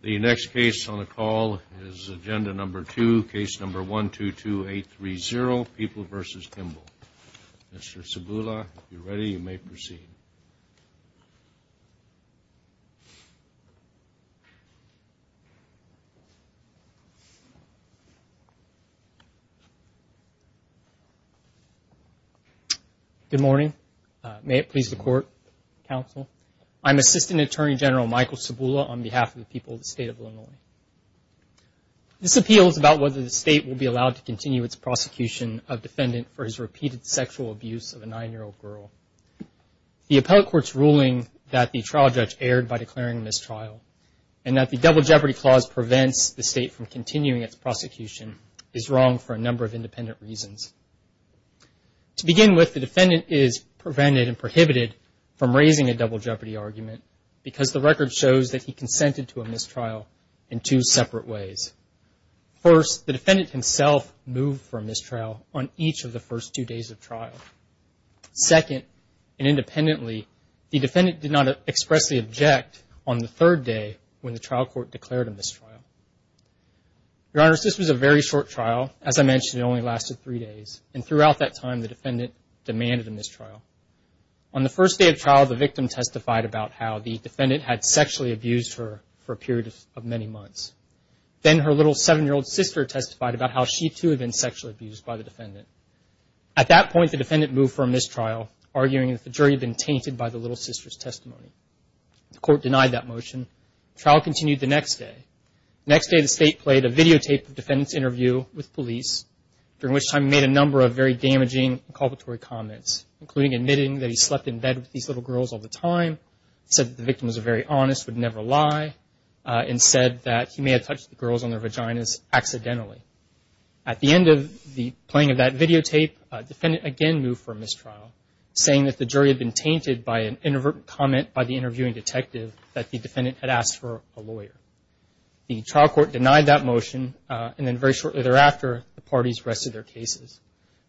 The next case on the call is Agenda Number 2, Case Number 122830, People v. Kimble. Mr. Sabula, if you're ready, you may proceed. Good morning. May it please the Court, Counsel. I'm Assistant Attorney General Michael Sabula on behalf of the people of the State of Illinois. This appeal is about whether the State will be allowed to continue its prosecution of defendant for his repeated sexual abuse of a 9-year-old girl. The appellate court's ruling that the trial judge erred by declaring a mistrial and that the Double Jeopardy Clause prevents the State from continuing its prosecution is wrong for a number of independent reasons. To begin with, the defendant is prevented and prohibited from raising a double jeopardy argument because the record shows that he consented to a mistrial in two separate ways. First, the defendant himself moved for a mistrial on each of the first two days of trial. Second, and independently, the defendant did not expressly object on the third day when the trial court declared a mistrial. Your Honor, this was a very short trial. As I mentioned, it only lasted three days. And throughout that time, the defendant demanded a mistrial. On the first day of trial, the victim testified about how the defendant had sexually abused her for a period of many months. Then her little 7-year-old sister testified about how she, too, had been sexually abused by the defendant. At that point, the defendant moved for a mistrial, arguing that the jury had been tainted by the little sister's testimony. The court denied that motion. The trial continued the next day. The next day, the State played a videotape of the defendant's interview with police, during which time he made a number of very damaging, inculpatory comments, including admitting that he slept in bed with these little girls all the time, said that the victim was a very honest, would never lie, and said that he may have touched the girls on their vaginas accidentally. At the end of the playing of that videotape, the defendant again moved for a mistrial, saying that the jury had been tainted by an inadvertent comment by the interviewing detective that the defendant had asked for a lawyer. The trial court denied that motion, and then very shortly thereafter, the parties rested their cases.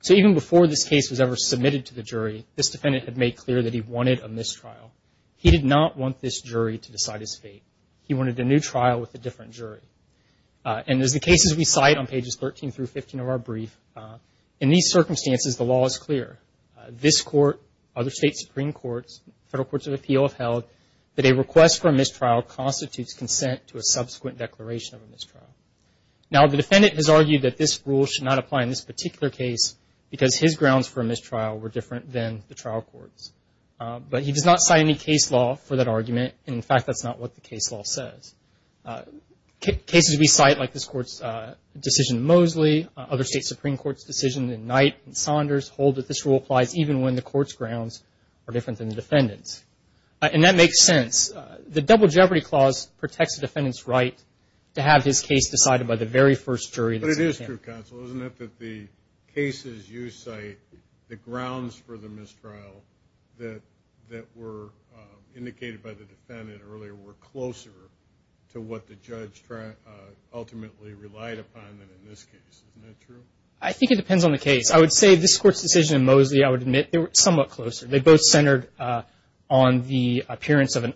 So even before this case was ever submitted to the jury, this defendant had made clear that he wanted a mistrial. He did not want this jury to decide his fate. He wanted a new trial with a different jury. And as the cases we cite on pages 13 through 15 of our brief, in these circumstances, the law is clear. This Court, other State Supreme Courts, Federal Courts of Appeal have held that a request for a mistrial constitutes consent to a subsequent declaration of a mistrial. Now, the defendant has argued that this rule should not apply in this particular case because his grounds for a mistrial were different than the trial court's. But he does not cite any case law for that argument. In fact, that's not what the case law says. Cases we cite, like this Court's decision in Mosley, other State Supreme Courts' decision in Knight and Saunders, hold that this rule applies even when the Court's grounds are different than the defendant's. And that makes sense. The Double Jeopardy Clause protects the defendant's right to have his case decided by the very first jury. But it is true, Counsel. Isn't it that the cases you cite, the grounds for the mistrial that were indicated by the defendant earlier, were closer to what the judge ultimately relied upon than in this case? Isn't that true? I think it depends on the case. I would say this Court's decision in Mosley, I would admit, they were somewhat closer. They both centered on the appearance of an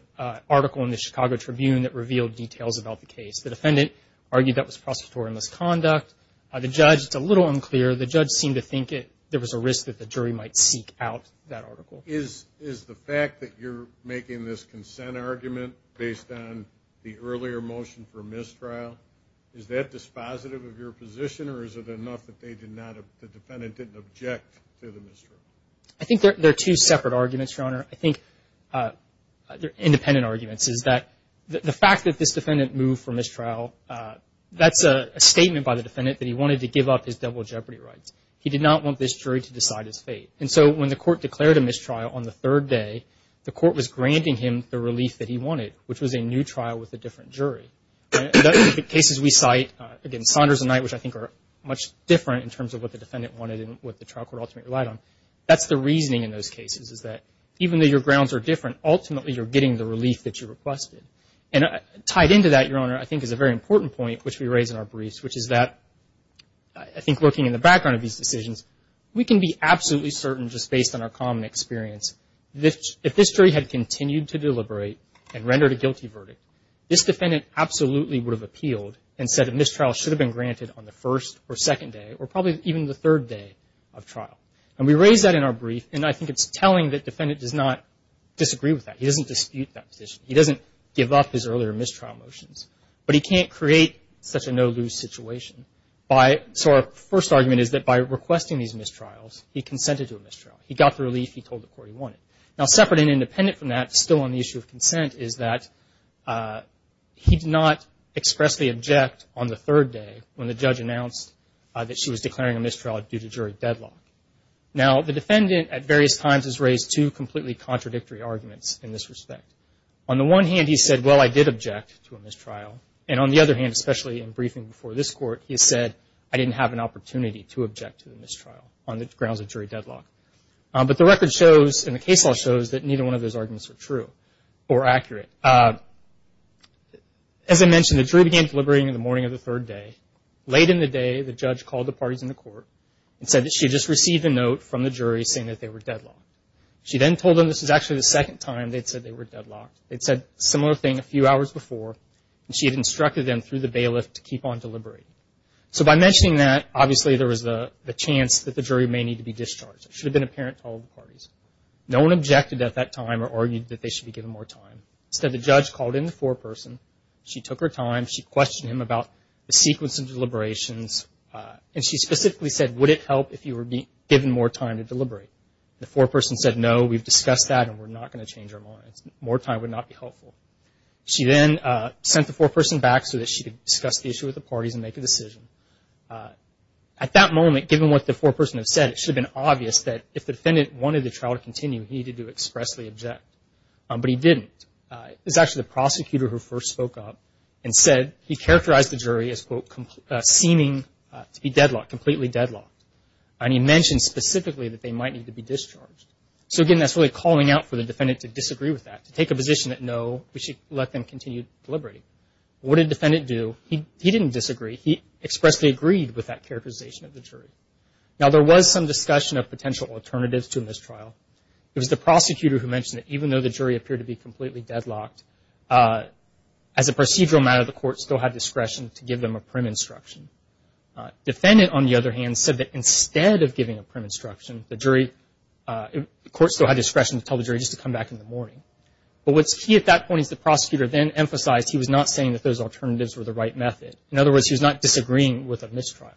article in the Chicago Tribune that revealed details about the case. The defendant argued that was prosecutorial misconduct. The judge, it's a little unclear. The judge seemed to think there was a risk that the jury might seek out that article. Is the fact that you're making this consent argument based on the earlier motion for mistrial, is that dispositive of your position or is it enough that the defendant didn't object to the mistrial? I think they're two separate arguments, Your Honor. I think they're independent arguments, is that the fact that this defendant moved for mistrial, that's a statement by the defendant that he wanted to give up his double jeopardy rights. He did not want this jury to decide his fate. And so when the court declared a mistrial on the third day, the court was granting him the relief that he wanted, which was a new trial with a different jury. The cases we cite, again, Saunders and Knight, which I think are much different in terms of what the defendant wanted and what the trial court ultimately relied on, that's the reasoning in those cases, is that even though your grounds are different, ultimately you're getting the relief that you requested. And tied into that, Your Honor, I think is a very important point, which we raise in our briefs, which is that I think looking in the background of these decisions, we can be absolutely certain just based on our common experience, if this jury had continued to deliberate and rendered a guilty verdict, this defendant absolutely would have appealed and said a mistrial should have been granted on the first or second day or probably even the third day of trial. And we raise that in our brief, and I think it's telling that defendant does not disagree with that. He doesn't dispute that position. He doesn't give up his earlier mistrial motions, but he can't create such a no-lose situation. So our first argument is that by requesting these mistrials, he consented to a mistrial. He got the relief he told the court he wanted. Now, separate and independent from that, still on the issue of consent, is that he did not expressly object on the third day when the judge announced that she was declaring a mistrial due to jury deadlock. Now, the defendant at various times has raised two completely contradictory arguments in this respect. On the one hand, he said, well, I did object to a mistrial. And on the other hand, especially in briefing before this court, he said I didn't have an opportunity to object to the mistrial on the grounds of jury deadlock. But the record shows and the case law shows that neither one of those arguments are true or accurate. As I mentioned, the jury began deliberating in the morning of the third day. Late in the day, the judge called the parties in the court and said that she had just received a note from the jury saying that they were deadlocked. She then told them this is actually the second time they'd said they were deadlocked. They'd said a similar thing a few hours before, and she had instructed them through the bailiff to keep on deliberating. So by mentioning that, obviously there was a chance that the jury may need to be discharged. It should have been apparent to all the parties. No one objected at that time or argued that they should be given more time. Instead, the judge called in the foreperson. She took her time. She questioned him about the sequence of deliberations. And she specifically said, would it help if you were given more time to deliberate? The foreperson said, no, we've discussed that and we're not going to change our minds. More time would not be helpful. She then sent the foreperson back so that she could discuss the issue with the parties and make a decision. At that moment, given what the foreperson had said, it should have been obvious that if the defendant wanted the trial to continue, he needed to expressly object. But he didn't. It was actually the prosecutor who first spoke up and said he characterized the jury as, quote, seeming to be deadlocked, completely deadlocked. And he mentioned specifically that they might need to be discharged. So, again, that's really calling out for the defendant to disagree with that, to take a position that, no, we should let them continue deliberating. What did the defendant do? He didn't disagree. He expressly agreed with that characterization of the jury. Now, there was some discussion of potential alternatives to a mistrial. It was the prosecutor who mentioned that even though the jury appeared to be completely deadlocked, as a procedural matter, the court still had discretion to give them a prim instruction. Defendant, on the other hand, said that instead of giving a prim instruction, the jury, the court still had discretion to tell the jury just to come back in the morning. But what's key at that point is the prosecutor then emphasized he was not saying that those alternatives were the right method. In other words, he was not disagreeing with a mistrial,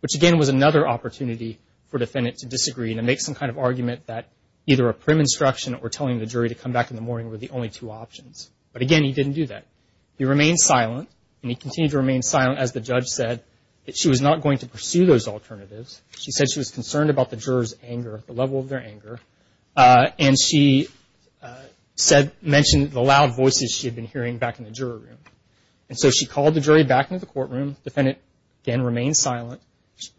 which, again, was another opportunity for defendant to disagree and to make some kind of argument that either a prim instruction or telling the jury to come back in the morning were the only two options. But, again, he didn't do that. He remained silent, and he continued to remain silent as the judge said that she was not going to pursue those alternatives. She said she was concerned about the jurors' anger, the level of their anger, and she mentioned the loud voices she had been hearing back in the jury room. And so she called the jury back into the courtroom. Defendant, again, remained silent.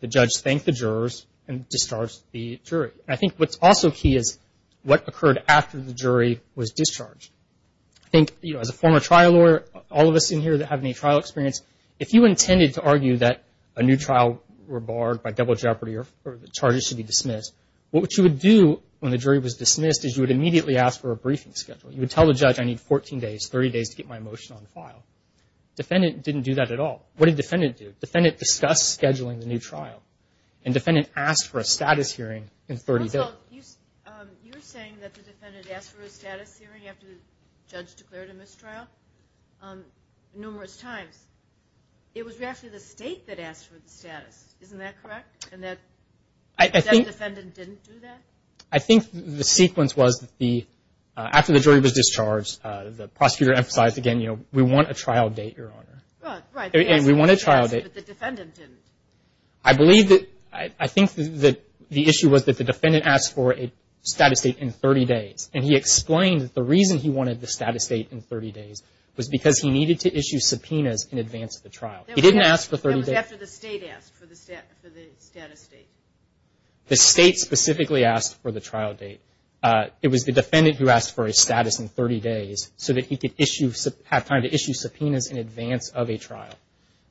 The judge thanked the jurors and discharged the jury. And I think what's also key is what occurred after the jury was discharged. I think, you know, as a former trial lawyer, all of us in here that have any trial experience, if you intended to argue that a new trial were barred by double jeopardy or the charges should be dismissed, what you would do when the jury was dismissed is you would immediately ask for a briefing schedule. You would tell the judge, I need 14 days, 30 days to get my motion on file. Defendant didn't do that at all. What did defendant do? Defendant discussed scheduling the new trial, and defendant asked for a status hearing in 30 days. You were saying that the defendant asked for a status hearing after the judge declared a mistrial numerous times. It was actually the state that asked for the status. Isn't that correct? And that defendant didn't do that? I think the sequence was after the jury was discharged, the prosecutor emphasized, again, we want a trial date, Your Honor. Right. And we want a trial date. But the defendant didn't. I think the issue was that the defendant asked for a status date in 30 days, and he explained that the reason he wanted the status date in 30 days was because he needed to issue subpoenas in advance of the trial. He didn't ask for 30 days. That was after the state asked for the status date. The state specifically asked for the trial date. It was the defendant who asked for a status in 30 days so that he could have time to issue subpoenas in advance of a trial.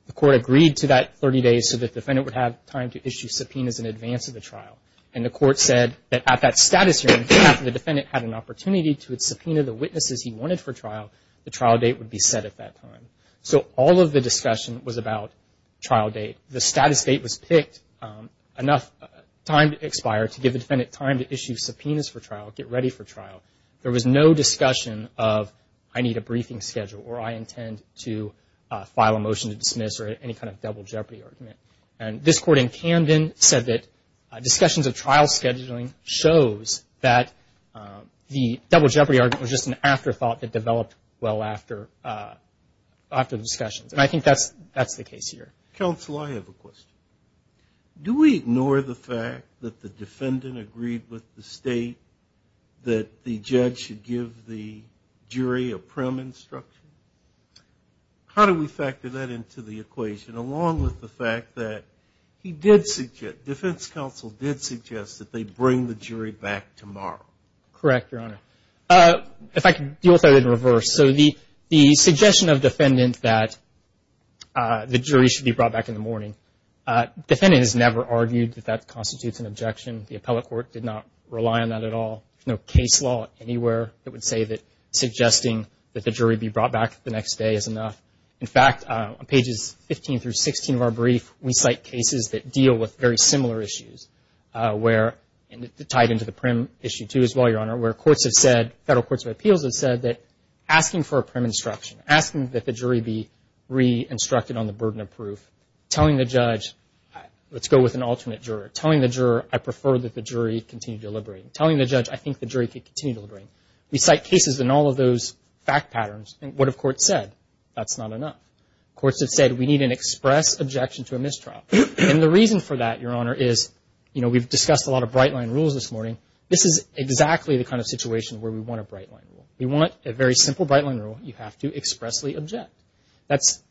The court agreed to that 30 days so the defendant would have time to issue subpoenas in advance of the trial. And the court said that at that status hearing, after the defendant had an opportunity to subpoena the witnesses he wanted for trial, the trial date would be set at that time. So all of the discussion was about trial date. The status date was picked enough time to expire to give the defendant time to issue subpoenas for trial, get ready for trial. There was no discussion of I need a briefing schedule or I intend to file a motion to dismiss or any kind of double jeopardy argument. And this court in Camden said that discussions of trial scheduling shows that the double jeopardy argument was just an afterthought that developed well after the discussions. And I think that's the case here. Counsel, I have a question. Do we ignore the fact that the defendant agreed with the state that the judge should give the jury a prim instruction? How do we factor that into the equation along with the fact that he did suggest, defense counsel did suggest that they bring the jury back tomorrow? Correct, Your Honor. If I could deal with that in reverse. So the suggestion of defendant that the jury should be brought back in the morning, defendant has never argued that that constitutes an objection. The appellate court did not rely on that at all. There's no case law anywhere that would say that suggesting that the jury be brought back the next day is enough. In fact, on pages 15 through 16 of our brief, we cite cases that deal with very similar issues where, and tied into the prim issue too as well, Your Honor, where courts have said, federal courts of appeals have said that asking for a prim instruction, asking that the jury be re-instructed on the burden of proof, telling the judge, let's go with an alternate juror, telling the juror I prefer that the jury continue deliberating, telling the judge I think the jury can continue deliberating. We cite cases in all of those fact patterns. What have courts said? That's not enough. Courts have said we need an express objection to a mistrial. And the reason for that, Your Honor, is, you know, we've discussed a lot of bright-line rules this morning. This is exactly the kind of situation where we want a bright-line rule. We want a very simple bright-line rule. You have to expressly object. That's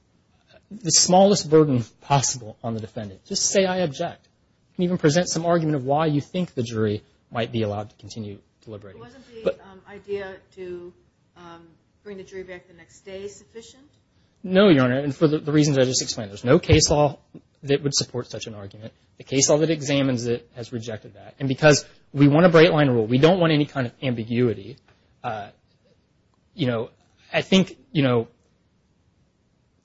the smallest burden possible on the defendant. Just say I object. You can even present some argument of why you think the jury might be allowed to continue deliberating. Wasn't the idea to bring the jury back the next day sufficient? No, Your Honor, and for the reasons I just explained. There's no case law that would support such an argument. The case law that examines it has rejected that. And because we want a bright-line rule, we don't want any kind of ambiguity. You know, I think, you know,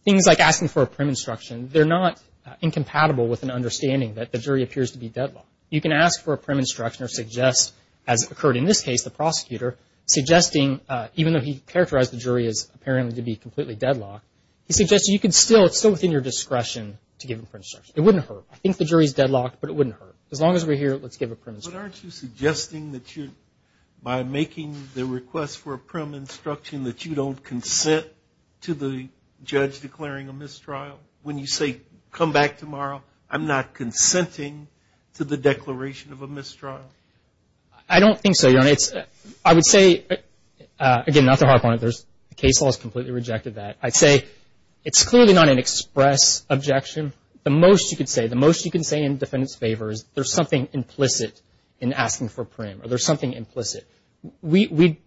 things like asking for a prim instruction, they're not incompatible with an understanding that the jury appears to be deadlocked. You can ask for a prim instruction or suggest, as occurred in this case, the prosecutor, suggesting, even though he characterized the jury as apparently to be completely deadlocked, he suggested you could still, it's still within your discretion to give a prim instruction. It wouldn't hurt. I think the jury is deadlocked, but it wouldn't hurt. As long as we're here, let's give a prim instruction. But aren't you suggesting that you, by making the request for a prim instruction, that you don't consent to the judge declaring a mistrial? When you say, come back tomorrow, I'm not consenting to the declaration of a mistrial. I don't think so, Your Honor. I would say, again, not to harp on it, the case law has completely rejected that. I'd say it's clearly not an express objection. The most you can say, the most you can say in the defendant's favor is there's something implicit in asking for prim or there's something implicit. We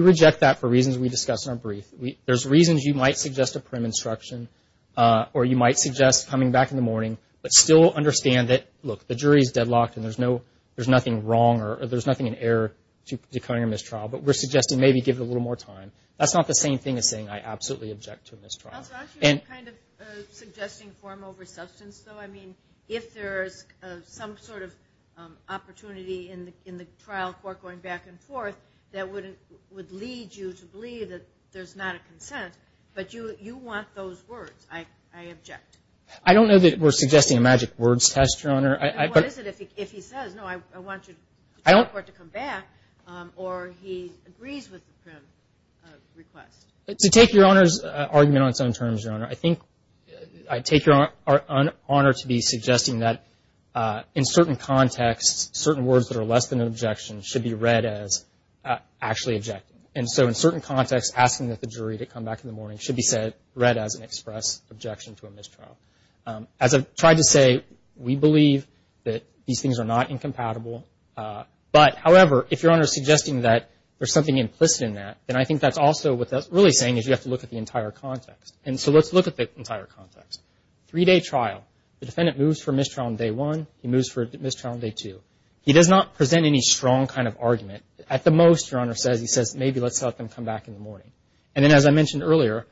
reject that for reasons we discussed in our brief. There's reasons you might suggest a prim instruction or you might suggest coming back in the morning but still understand that, look, the jury is deadlocked and there's no, there's nothing wrong or there's nothing in error to declaring a mistrial, but we're suggesting maybe give it a little more time. That's not the same thing as saying I absolutely object to a mistrial. Also, aren't you kind of suggesting form over substance, though? I mean, if there is some sort of opportunity in the trial court going back and forth, that would lead you to believe that there's not a consent, but you want those words, I object. I don't know that we're suggesting a magic words test, Your Honor. What is it if he says, no, I want your trial court to come back or he agrees with the prim request? To take Your Honor's argument on its own terms, Your Honor, I think I take your honor to be suggesting that in certain contexts, certain words that are less than an objection should be read as actually objecting. And so in certain contexts, asking that the jury to come back in the morning should be said, read as an express objection to a mistrial. As I've tried to say, we believe that these things are not incompatible. But, however, if Your Honor is suggesting that there's something implicit in that, then I think that's also what that's really saying is you have to look at the entire context. And so let's look at the entire context. Three-day trial. The defendant moves for mistrial on day one. He moves for mistrial on day two. He does not present any strong kind of argument. At the most, Your Honor, he says maybe let's let them come back in the morning. And then, as I mentioned earlier,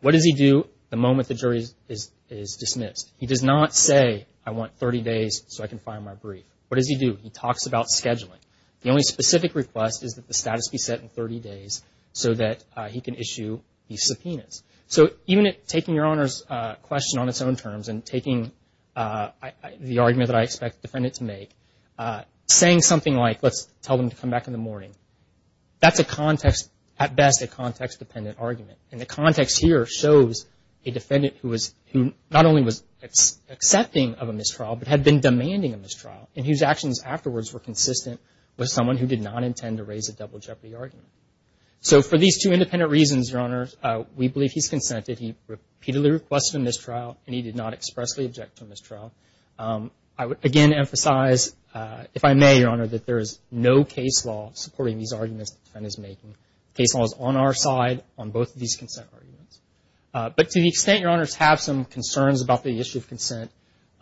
what does he do the moment the jury is dismissed? He does not say I want 30 days so I can file my brief. What does he do? He talks about scheduling. The only specific request is that the status be set in 30 days so that he can issue these subpoenas. So even taking Your Honor's question on its own terms and taking the argument that I expect the defendant to make, that's a context, at best, a context-dependent argument. And the context here shows a defendant who not only was accepting of a mistrial but had been demanding a mistrial and whose actions afterwards were consistent with someone who did not intend to raise a double jeopardy argument. So for these two independent reasons, Your Honor, we believe he's consented. He repeatedly requested a mistrial and he did not expressly object to a mistrial. I would again emphasize, if I may, Your Honor, that there is no case law supporting these arguments the defendant is making. The case law is on our side on both of these consent arguments. But to the extent Your Honors have some concerns about the issue of consent,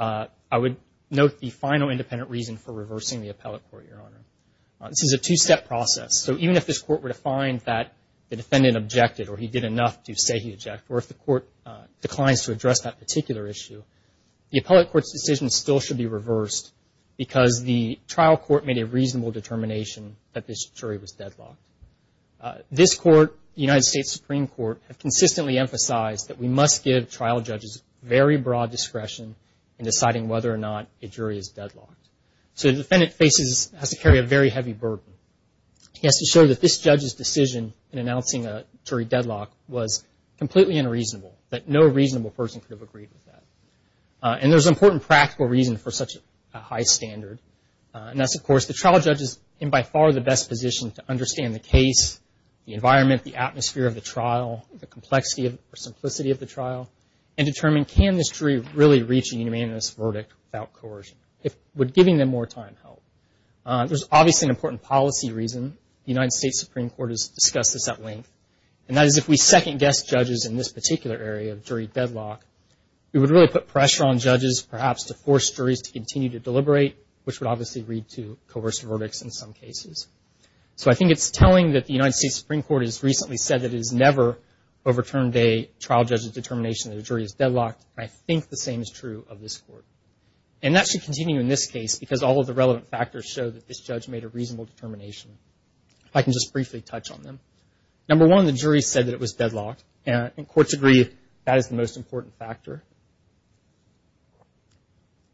I would note the final independent reason for reversing the appellate court, Your Honor. This is a two-step process. So even if this court were to find that the defendant objected or he did enough to say he objected or if the court declines to address that particular issue, the appellate court's decision still should be reversed because the trial court made a reasonable determination that this jury was deadlocked. This court, the United States Supreme Court, have consistently emphasized that we must give trial judges very broad discretion in deciding whether or not a jury is deadlocked. So the defendant faces, has to carry a very heavy burden. He has to show that this judge's decision in announcing a jury deadlock was completely unreasonable, that no reasonable person could have agreed with that. And there's an important practical reason for such a high standard, and that's, of course, the trial judge is in by far the best position to understand the case, the environment, the atmosphere of the trial, the complexity or simplicity of the trial, and determine can this jury really reach a unanimous verdict without coercion. Would giving them more time help? There's obviously an important policy reason. The United States Supreme Court has discussed this at length, and that is if we second-guess judges in this particular area of jury deadlock, we would really put pressure on judges perhaps to force juries to continue to deliberate, which would obviously lead to coercive verdicts in some cases. So I think it's telling that the United States Supreme Court has recently said that it has never overturned a trial judge's determination that a jury is deadlocked, and I think the same is true of this court. And that should continue in this case, because all of the relevant factors show that this judge made a reasonable determination. If I can just briefly touch on them. Number one, the jury said that it was deadlocked, and courts agree that is the most important factor.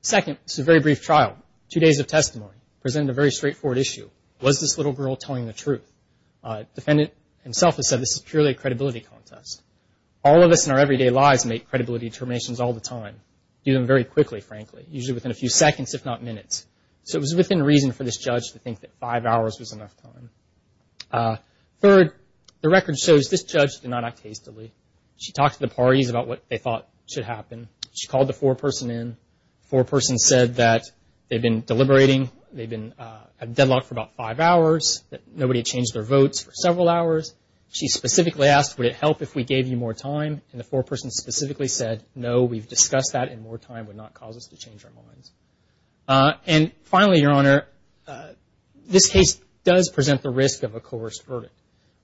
Second, this is a very brief trial, two days of testimony, presented a very straightforward issue. Was this little girl telling the truth? The defendant himself has said this is purely a credibility contest. All of us in our everyday lives make credibility determinations all the time, do them very quickly, frankly, usually within a few seconds, if not minutes. So it was within reason for this judge to think that five hours was enough time. Third, the record shows this judge did not act hastily. She talked to the parties about what they thought should happen. She called the foreperson in. The foreperson said that they'd been deliberating, they'd been at deadlock for about five hours, that nobody had changed their votes for several hours. She specifically asked, would it help if we gave you more time? And the foreperson specifically said, no, we've discussed that, and more time would not cause us to change our minds. And finally, Your Honor, this case does present the risk of a coerced verdict.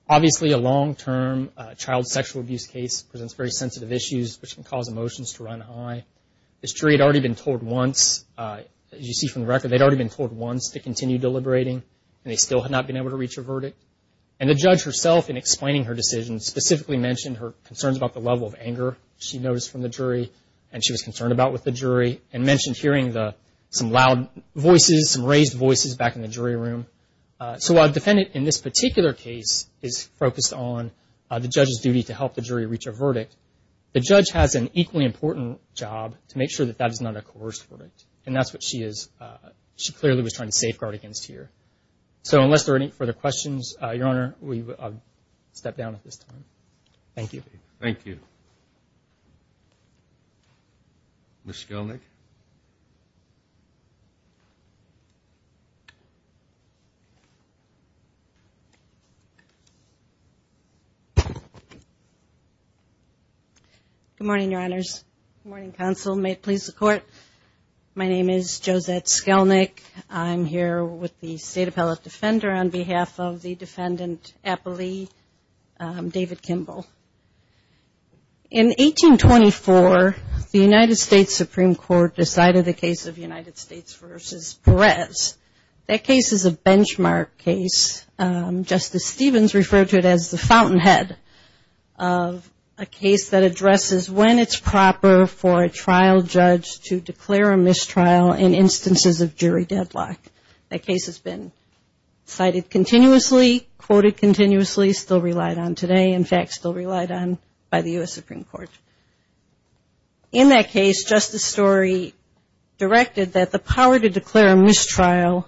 Obviously, a long-term child sexual abuse case presents very sensitive issues, which can cause emotions to run high. This jury had already been told once, as you see from the record, they'd already been told once to continue deliberating, and they still had not been able to reach a verdict. And the judge herself, in explaining her decision, specifically mentioned her concerns about the level of anger she noticed from the jury and she was concerned about with the jury, and mentioned hearing some loud voices, some raised voices back in the jury room. So while a defendant in this particular case is focused on the judge's duty to help the jury reach a verdict, the judge has an equally important job to make sure that that is not a coerced verdict, and that's what she clearly was trying to safeguard against here. So unless there are any further questions, Your Honor, I'll step down at this time. Thank you. Ms. Skelnick. Good morning, Your Honors. Good morning, Counsel. May it please the Court. My name is Josette Skelnick. I'm here with the State Appellate Defender on behalf of the defendant appellee, David Kimball. In 1824, the United States Supreme Court decided the case of United States v. Perez. That case is a benchmark case. Justice Stevens referred to it as the fountainhead of a case that addresses when it's proper for a trial judge to declare a mistrial in instances of jury deadlock. That case has been cited continuously, quoted continuously, still relied on today, in fact still relied on by the U.S. Supreme Court. In that case, Justice Story directed that the power to declare a mistrial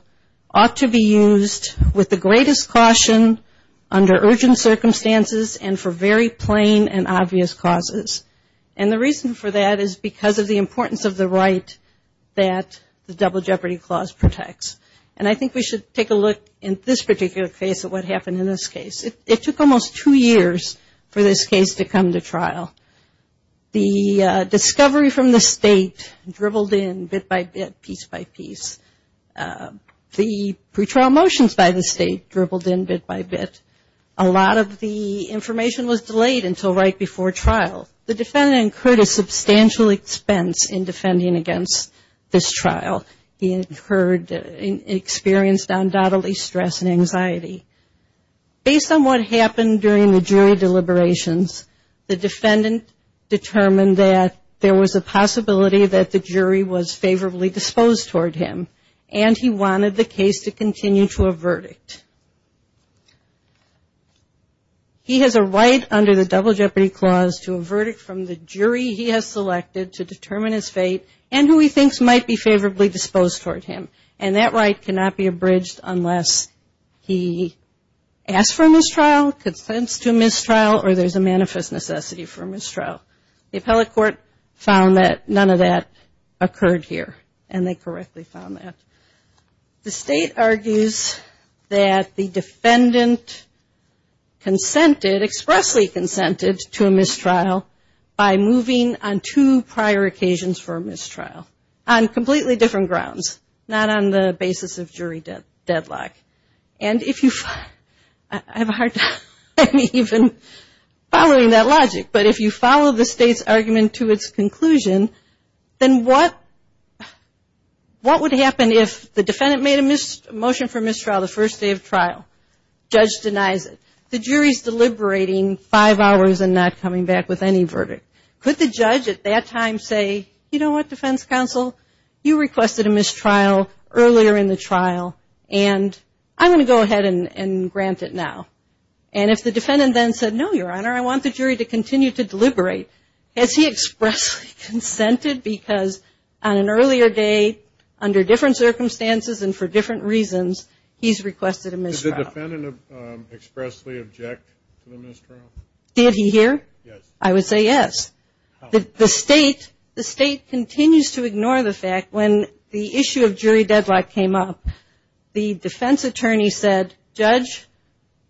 ought to be used with the greatest caution under urgent circumstances and for very plain and obvious causes. And the reason for that is because of the importance of the right that the Double Jeopardy Clause protects. And I think we should take a look in this particular case at what happened in this case. It took almost two years for this case to come to trial. The discovery from the State dribbled in bit by bit, piece by piece. The pretrial motions by the State dribbled in bit by bit. A lot of the information was delayed until right before trial. The defendant incurred a substantial expense in defending against this trial. He incurred and experienced undoubtedly stress and anxiety. Based on what happened during the jury deliberations, the defendant determined that there was a possibility that the jury was favorably disposed toward him and he wanted the case to continue to a verdict. He has a right under the Double Jeopardy Clause to a verdict from the jury he has selected to determine his fate and who he thinks might be favorably disposed toward him. And that right cannot be abridged unless he asks for a mistrial, consents to a mistrial, the appellate court found that none of that occurred here and they correctly found that. The State argues that the defendant consented, expressly consented to a mistrial by moving on two prior occasions for a mistrial on completely different grounds, not on the basis of jury deadlock. I have a hard time even following that logic. But if you follow the State's argument to its conclusion, then what would happen if the defendant made a motion for mistrial the first day of trial? Judge denies it. The jury is deliberating five hours and not coming back with any verdict. Could the judge at that time say, you know what, defense counsel, you requested a mistrial earlier in the trial and I'm going to go ahead and grant it now. And if the defendant then said, no, Your Honor, I want the jury to continue to deliberate, has he expressly consented because on an earlier day, under different circumstances and for different reasons, he's requested a mistrial? Did the defendant expressly object to the mistrial? Did he here? Yes. I would say yes. How? The State continues to ignore the fact when the issue of jury deadlock came up, the defense attorney said, Judge,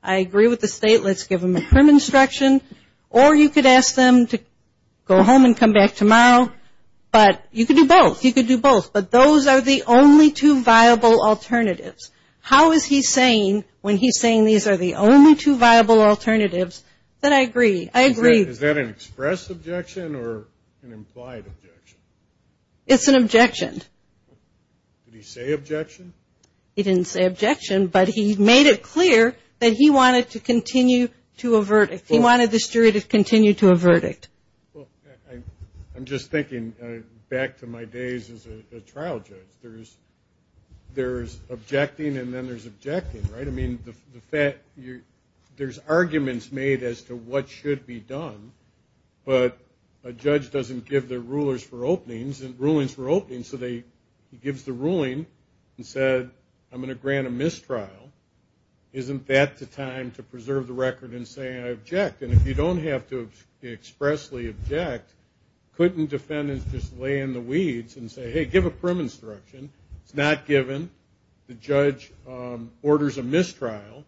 I agree with the State. Let's give them a crim instruction. Or you could ask them to go home and come back tomorrow. But you could do both. You could do both. But those are the only two viable alternatives. How is he saying when he's saying these are the only two viable alternatives that I agree? I agree. Is that an express objection or an implied objection? It's an objection. Did he say objection? He didn't say objection, but he made it clear that he wanted to continue to a verdict. He wanted the jury to continue to a verdict. Well, I'm just thinking back to my days as a trial judge. There's objecting and then there's objecting, right? I mean, there's arguments made as to what should be done, but a judge doesn't give the rulers for openings and rulings for openings. So he gives the ruling and said, I'm going to grant a mistrial. Isn't that the time to preserve the record in saying I object? And if you don't have to expressly object, couldn't defendants just lay in the weeds and say, hey, give a crim instruction? It's not given. The judge orders a mistrial,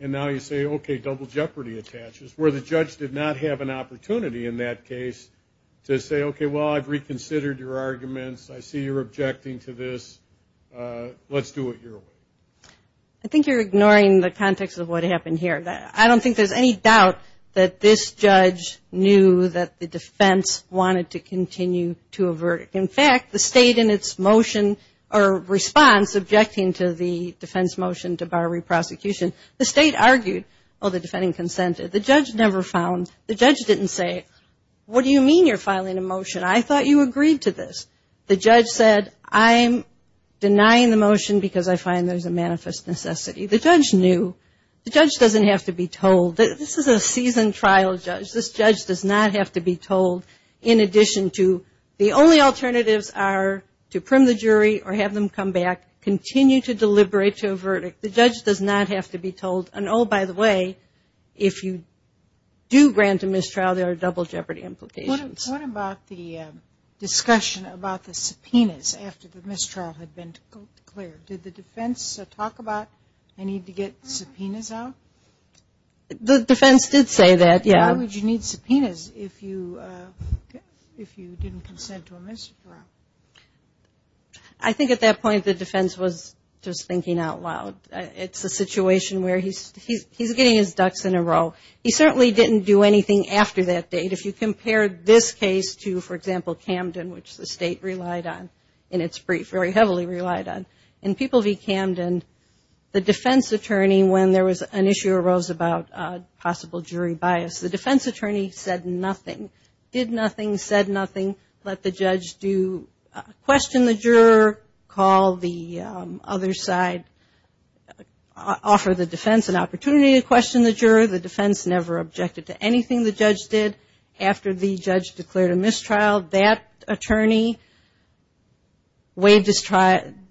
and now you say, okay, double jeopardy attaches, where the judge did not have an opportunity in that case to say, okay, well, I've reconsidered your arguments. I see you're objecting to this. Let's do it your way. I think you're ignoring the context of what happened here. I don't think there's any doubt that this judge knew that the defense wanted to continue to a verdict. In fact, the state in its motion or response, objecting to the defense motion to bar reprosecution, the state argued. Well, the defendant consented. The judge never found. The judge didn't say, what do you mean you're filing a motion? I thought you agreed to this. The judge said, I'm denying the motion because I find there's a manifest necessity. The judge knew. The judge doesn't have to be told. This is a seasoned trial judge. This judge does not have to be told in addition to the only alternatives are to prim the jury or have them come back, continue to deliberate to a verdict. The judge does not have to be told. And, oh, by the way, if you do grant a mistrial, there are double jeopardy implications. What about the discussion about the subpoenas after the mistrial had been declared? Did the defense talk about a need to get subpoenas out? The defense did say that, yeah. Why would you need subpoenas if you didn't consent to a mistrial? I think at that point the defense was just thinking out loud. It's a situation where he's getting his ducks in a row. He certainly didn't do anything after that date. If you compare this case to, for example, Camden, which the state relied on in its brief, very heavily relied on, in People v. Camden, the defense attorney when there was an issue arose about possible jury bias. The defense attorney said nothing, did nothing, said nothing, let the judge question the juror, call the other side, offer the defense an opportunity to question the juror. The defense never objected to anything the judge did after the judge declared a mistrial. That attorney waived his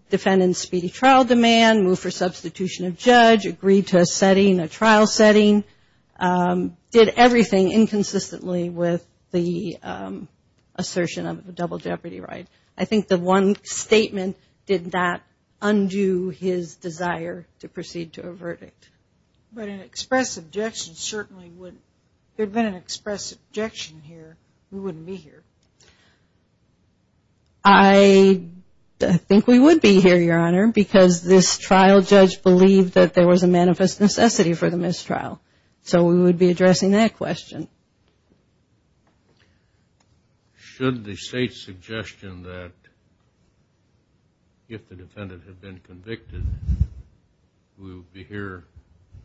defendant's speedy trial demand, moved for substitution of judge, agreed to a trial setting, did everything inconsistently with the assertion of a double jeopardy right. I think the one statement did not undo his desire to proceed to a verdict. But an express objection certainly wouldn't. If there had been an express objection here, we wouldn't be here. I think we would be here, Your Honor, because this trial judge believed that there was a manifest necessity for the mistrial. So we would be addressing that question. Should the state's suggestion that if the defendant had been convicted, we would be here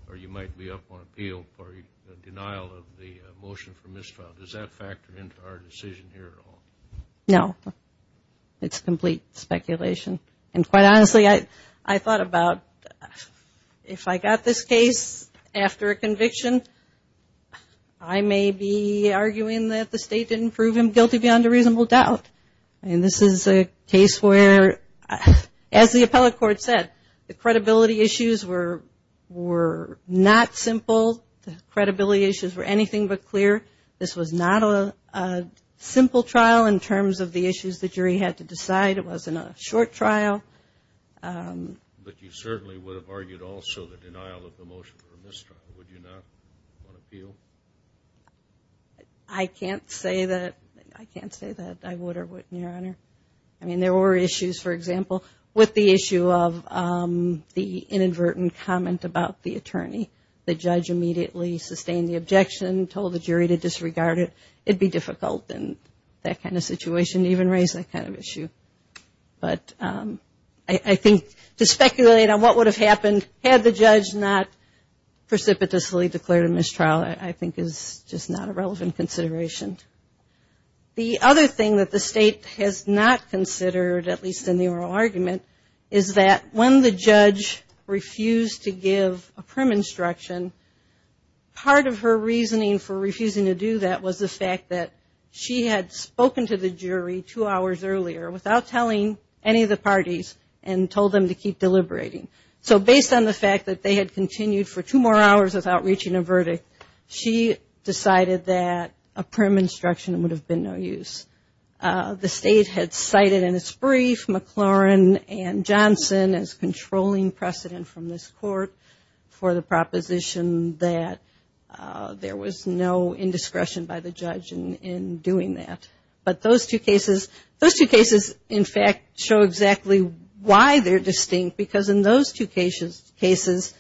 or you might be up on appeal for the denial of the motion for mistrial, does that factor into our decision here at all? No. It's complete speculation. And quite honestly, I thought about if I got this case after a conviction, I may be arguing that the state didn't prove him guilty beyond a reasonable doubt. And this is a case where, as the appellate court said, the credibility issues were not simple. The credibility issues were anything but clear. This was not a simple trial in terms of the issues the jury had to decide. It wasn't a short trial. But you certainly would have argued also the denial of the motion for mistrial, would you not, on appeal? I can't say that I would or wouldn't, Your Honor. I mean, there were issues, for example, with the issue of the inadvertent comment about the attorney. The judge immediately sustained the objection, told the jury to disregard it. It would be difficult in that kind of situation to even raise that kind of issue. But I think to speculate on what would have happened had the judge not precipitously declared a mistrial, I think is just not a relevant consideration. The other thing that the state has not considered, at least in the oral argument, is that when the judge refused to give a prim instruction, part of her reasoning for refusing to do that was the fact that she had spoken to the jury two hours earlier without telling any of the parties and told them to keep deliberating. So based on the fact that they had continued for two more hours without reaching a verdict, she decided that a prim instruction would have been no use. The state had cited in its brief McLaurin and Johnson as controlling precedent from this court for the proposition that there was no indiscretion by the judge in doing that. But those two cases, in fact, show exactly why they're distinct because in those two cases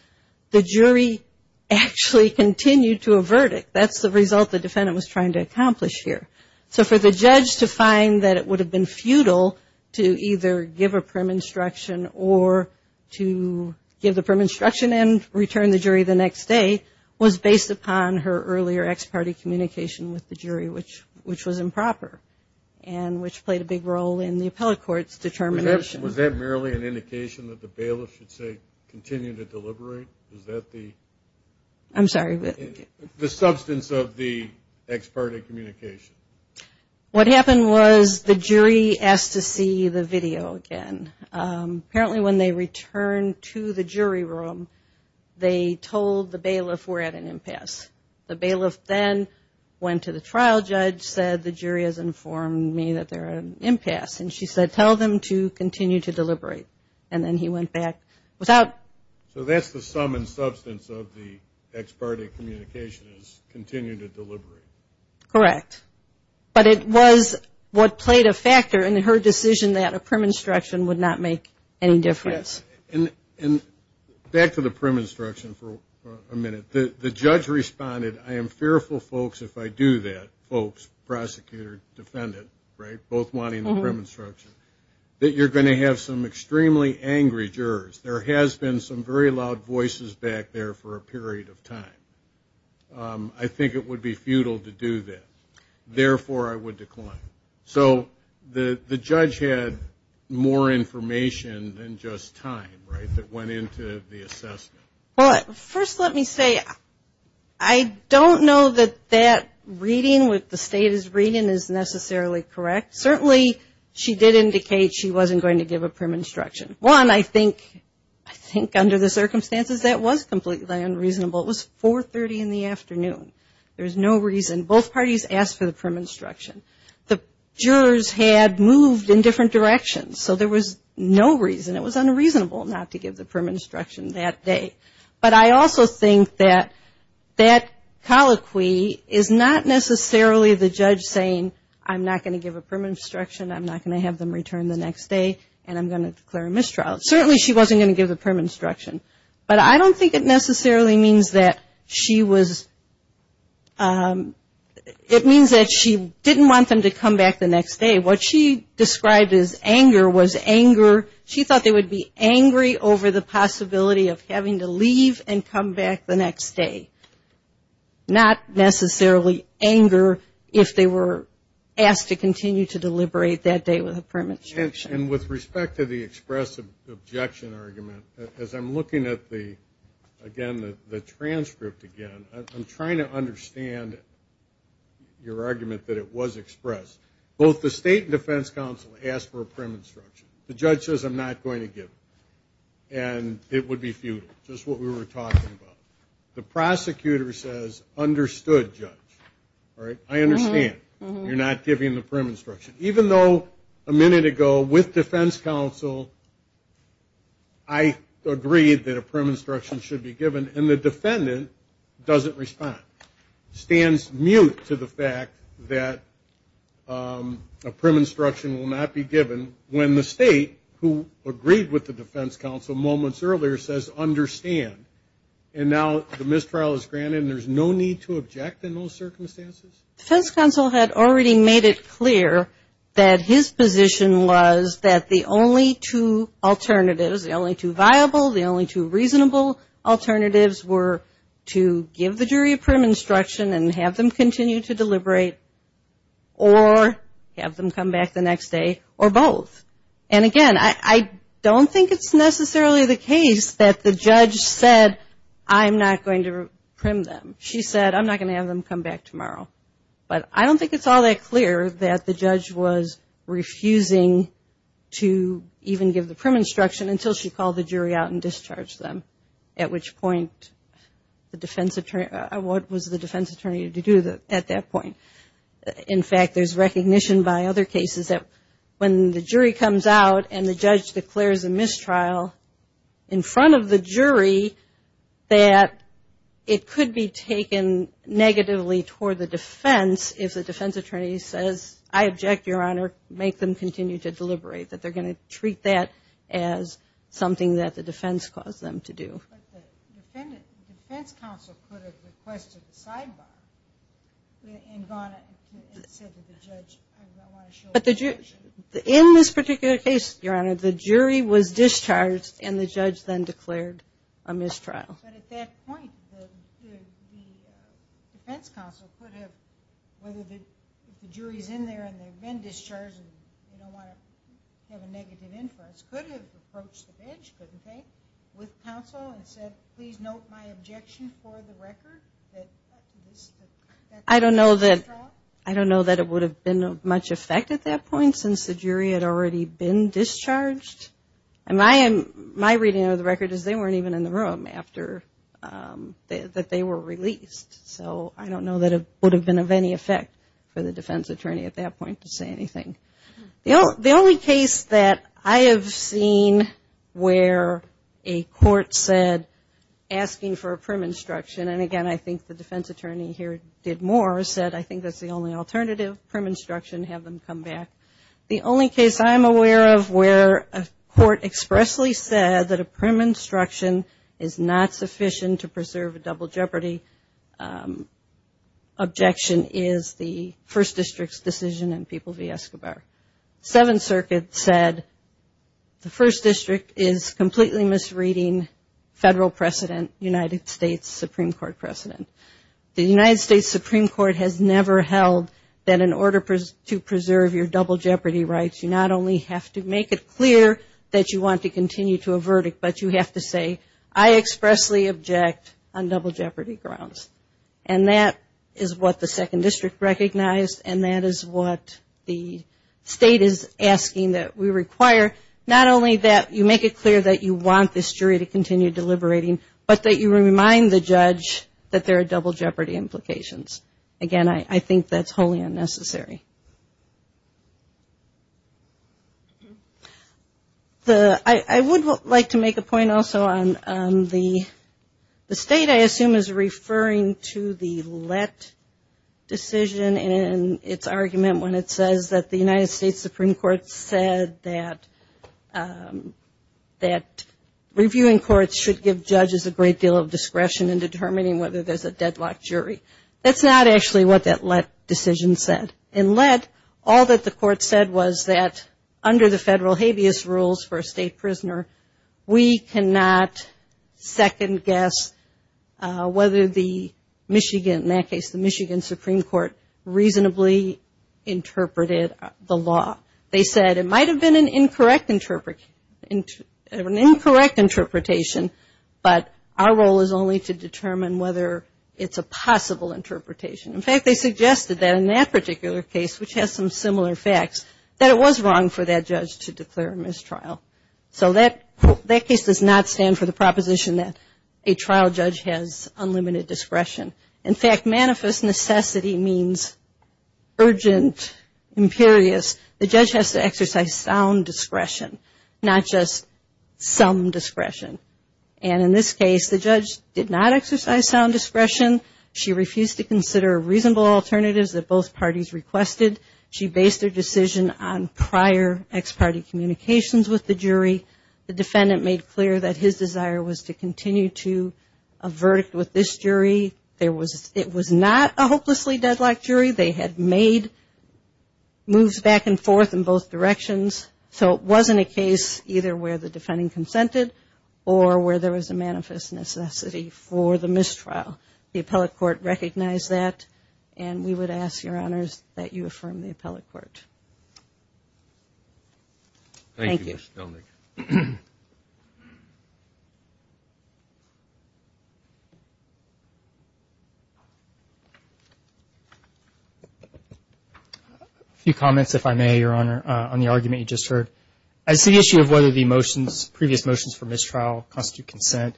the jury actually continued to a verdict. That's the result the defendant was trying to accomplish here. So for the judge to find that it would have been futile to either give a prim instruction or to give the prim instruction and return the jury the next day was based upon her earlier ex parte communication with the jury, which was improper and which played a big role in the appellate court's determination. Was that merely an indication that the bailiff should say continue to deliberate? Is that the substance of the ex parte communication? What happened was the jury asked to see the video again. Apparently when they returned to the jury room, they told the bailiff we're at an impasse. The bailiff then went to the trial judge, said the jury has informed me that they're at an impasse. And she said tell them to continue to deliberate. And then he went back without. So that's the sum and substance of the ex parte communication is continue to deliberate. Correct. But it was what played a factor in her decision that a prim instruction would not make any difference. And back to the prim instruction for a minute. The judge responded I am fearful, folks, if I do that, folks, prosecutor, defendant, right, both wanting the prim instruction, that you're going to have some extremely angry jurors. There has been some very loud voices back there for a period of time. I think it would be futile to do that. Therefore, I would decline. So the judge had more information than just time, right, that went into the assessment. Well, first let me say I don't know that that reading with the status reading is necessarily correct. Certainly she did indicate she wasn't going to give a prim instruction. One, I think under the circumstances that was completely unreasonable. It was 4.30 in the afternoon. There was no reason. Both parties asked for the prim instruction. The jurors had moved in different directions. So there was no reason. It was unreasonable not to give the prim instruction that day. But I also think that that colloquy is not necessarily the judge saying I'm not going to give a prim instruction, I'm not going to have them return the next day, and I'm going to declare a mistrial. Certainly she wasn't going to give the prim instruction. But I don't think it necessarily means that she was ‑‑ it means that she didn't want them to come back the next day. What she described as anger was anger. She thought they would be angry over the possibility of having to leave and come back the next day. Not necessarily anger if they were asked to continue to deliberate that day with a prim instruction. And with respect to the express objection argument, as I'm looking at the, again, the transcript again, I'm trying to understand your argument that it was expressed. Both the state and defense counsel asked for a prim instruction. The judge says I'm not going to give it. And it would be futile. Just what we were talking about. The prosecutor says understood, judge. All right? I understand you're not giving the prim instruction. Even though a minute ago with defense counsel I agreed that a prim instruction should be given, and the defendant doesn't respond. Stands mute to the fact that a prim instruction will not be given when the state, who agreed with the defense counsel moments earlier, says understand. And now the mistrial is granted and there's no need to object in those circumstances? Defense counsel had already made it clear that his position was that the only two alternatives, the only two viable, the only two reasonable alternatives were to give the jury a prim instruction and have them continue to deliberate or have them come back the next day or both. And, again, I don't think it's necessarily the case that the judge said I'm not going to prim them. She said I'm not going to have them come back tomorrow. But I don't think it's all that clear that the judge was refusing to even give the prim instruction until she called the jury out and discharged them, at which point the defense attorney, what was the defense attorney to do at that point? In fact, there's recognition by other cases that when the jury comes out and the judge declares a mistrial in front of the jury, that it could be taken negatively toward the defense if the defense attorney says, I object, Your Honor, make them continue to deliberate, that they're going to treat that as something that the defense caused them to do. But the defense counsel could have requested a sidebar and gone and said to the judge, I don't want to show up at the commission. In this particular case, Your Honor, the jury was discharged and the judge then declared a mistrial. But at that point, the defense counsel could have, whether the jury's in there and they've been discharged and they don't want to have a negative influence, could have approached the bench, couldn't they, with counsel and said, please note my objection for the record that that's a mistrial? I don't know that it would have been of much effect at that point since the jury had already been discharged. And my reading of the record is they weren't even in the room after that they were released. So I don't know that it would have been of any effect for the defense attorney at that point to say anything. The only case that I have seen where a court said, asking for a prim instruction, and again I think the defense attorney here did more, said I think that's the only alternative, prim instruction, have them come back. The only case I'm aware of where a court expressly said that a prim instruction is not sufficient to preserve a double jeopardy objection is the First District's decision in People v. Escobar. Seventh Circuit said the First District is completely misreading federal precedent, United States Supreme Court precedent. The United States Supreme Court has never held that in order to preserve your double jeopardy rights, you not only have to make it clear that you want to continue to a verdict, but you have to say I expressly object on double jeopardy grounds. And that is what the Second District recognized and that is what the state is asking that we require. Not only that you make it clear that you want this jury to continue deliberating, but that you remind the judge that there are double jeopardy implications. Again, I think that's wholly unnecessary. I would like to make a point also on the state I assume is referring to the let decision in its argument when it says that the United States Supreme Court said that reviewing courts should give judges a great deal of discretion in determining whether there's a deadlock jury. That's not actually what that let decision said. In let, all that the court said was that under the federal habeas rules for a state prisoner, we cannot second guess whether the Michigan, in that case the Michigan Supreme Court, reasonably interpreted the law. They said it might have been an incorrect interpretation, but our role is only to determine whether it's a possible interpretation. In fact, they suggested that in that particular case, which has some similar facts, that it was wrong for that judge to declare a mistrial. So that case does not stand for the proposition that a trial judge has unlimited discretion. In fact, manifest necessity means urgent, imperious. The judge has to exercise sound discretion, not just some discretion. And in this case, the judge did not exercise sound discretion. She refused to consider reasonable alternatives that both parties requested. She based her decision on prior ex-party communications with the jury. The defendant made clear that his desire was to continue to a verdict with this jury. It was not a hopelessly deadlocked jury. They had made moves back and forth in both directions. So it wasn't a case either where the defending consented or where there was a manifest necessity for the mistrial. The appellate court recognized that, and we would ask your honors that you affirm the appellate court. Thank you, Ms. Stelmich. A few comments, if I may, Your Honor, on the argument you just heard. As to the issue of whether the previous motions for mistrial constitute consent,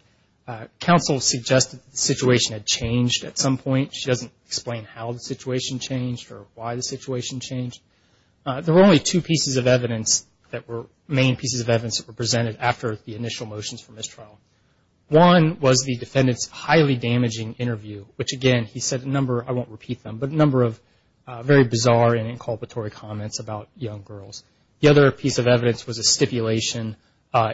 counsel suggested the situation had changed at some point. She doesn't explain how the situation changed or why the situation changed. There were only two pieces of evidence that were main pieces of evidence that were presented after the initial motions for mistrial. One was the defendant's highly damaging interview, which, again, he said a number, I won't repeat them, but a number of very bizarre and inculpatory comments about young girls. The other piece of evidence was a stipulation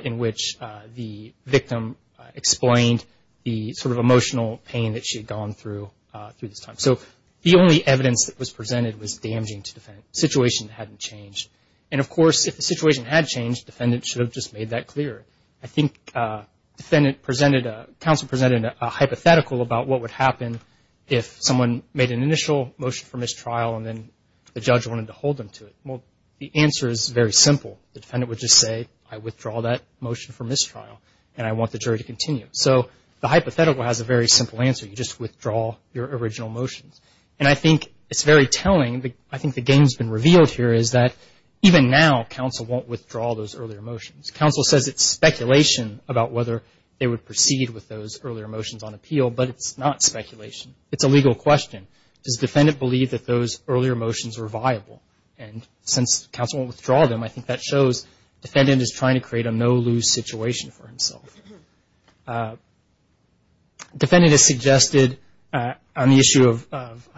in which the victim explained the sort of emotional pain that she had gone through through this time. So the only evidence that was presented was damaging to the defendant. The situation hadn't changed. And, of course, if the situation had changed, the defendant should have just made that clear. I think counsel presented a hypothetical about what would happen if someone made an initial motion for mistrial and then the judge wanted to hold them to it. Well, the answer is very simple. The defendant would just say, I withdraw that motion for mistrial, and I want the jury to continue. So the hypothetical has a very simple answer. You just withdraw your original motions. And I think it's very telling. I think the game's been revealed here is that even now, counsel won't withdraw those earlier motions. Counsel says it's speculation about whether they would proceed with those earlier motions on appeal, but it's not speculation. It's a legal question. Does the defendant believe that those earlier motions were viable? And since counsel won't withdraw them, I think that shows the defendant is trying to create a no-lose situation for himself. Defendant has suggested on the issue of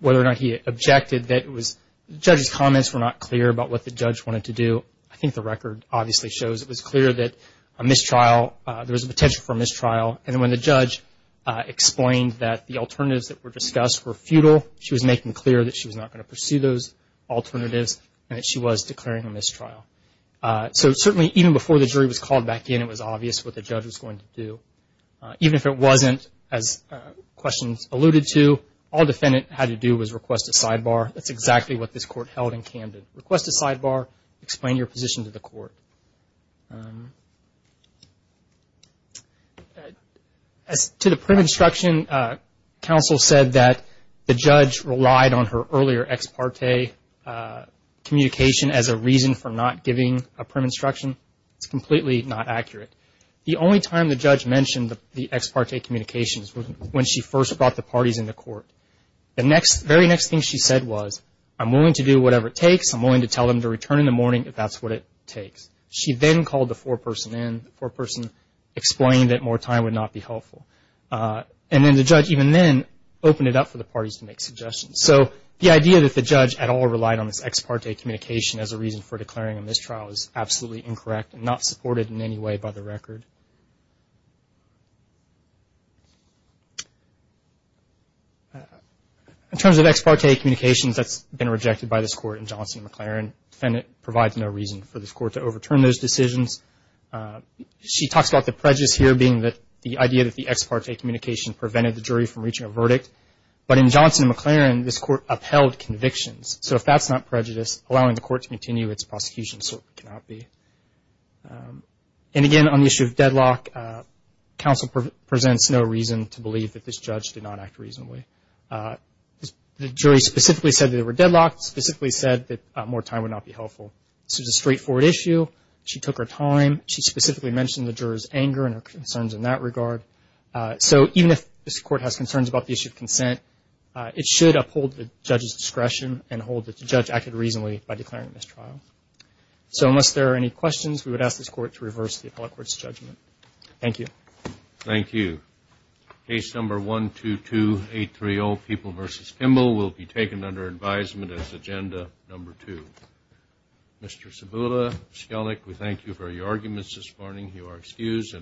whether or not he objected that it was the judge's comments were not clear about what the judge wanted to do. I think the record obviously shows it was clear that a mistrial, there was a potential for a mistrial. And when the judge explained that the alternatives that were discussed were futile, she was making clear that she was not going to pursue those alternatives and that she was declaring a mistrial. So certainly even before the jury was called back in, it was obvious what the judge was going to do. Even if it wasn't, as questions alluded to, all defendant had to do was request a sidebar. That's exactly what this court held in Camden. Request a sidebar, explain your position to the court. As to the print instruction, counsel said that the judge relied on her earlier ex parte communication as a reason for not giving a print instruction. It's completely not accurate. The only time the judge mentioned the ex parte communications was when she first brought the parties into court. The very next thing she said was, I'm willing to do whatever it takes. I'm willing to tell them to return in the morning if that's what it takes. She then called the foreperson in. The foreperson explained that more time would not be helpful. And then the judge even then opened it up for the parties to make suggestions. So the idea that the judge at all relied on this ex parte communication as a reason for declaring a mistrial is absolutely incorrect and not supported in any way by the record. In terms of ex parte communications, that's been rejected by this court in Johnson & McLaren. Defendant provides no reason for this court to overturn those decisions. She talks about the prejudice here being the idea that the ex parte communication prevented the jury from reaching a verdict. But in Johnson & McLaren, this court upheld convictions. So if that's not prejudice, allowing the court to continue its prosecution certainly cannot be. And again, on the issue of deadlock, counsel presents no reason to believe that this judge did not act reasonably. The jury specifically said they were deadlocked, specifically said that more time would not be helpful. This was a straightforward issue. She took her time. She specifically mentioned the juror's anger and her concerns in that regard. So even if this court has concerns about the issue of consent, it should uphold the judge's discretion and hold that the judge acted reasonably by declaring a mistrial. So unless there are any questions, we would ask this court to reverse the appellate court's judgment. Thank you. Thank you. Case number 122830, People v. Kimball, will be taken under advisement as agenda number two. Mr. Cibula, Skellig, we thank you for your arguments this morning. You are excused.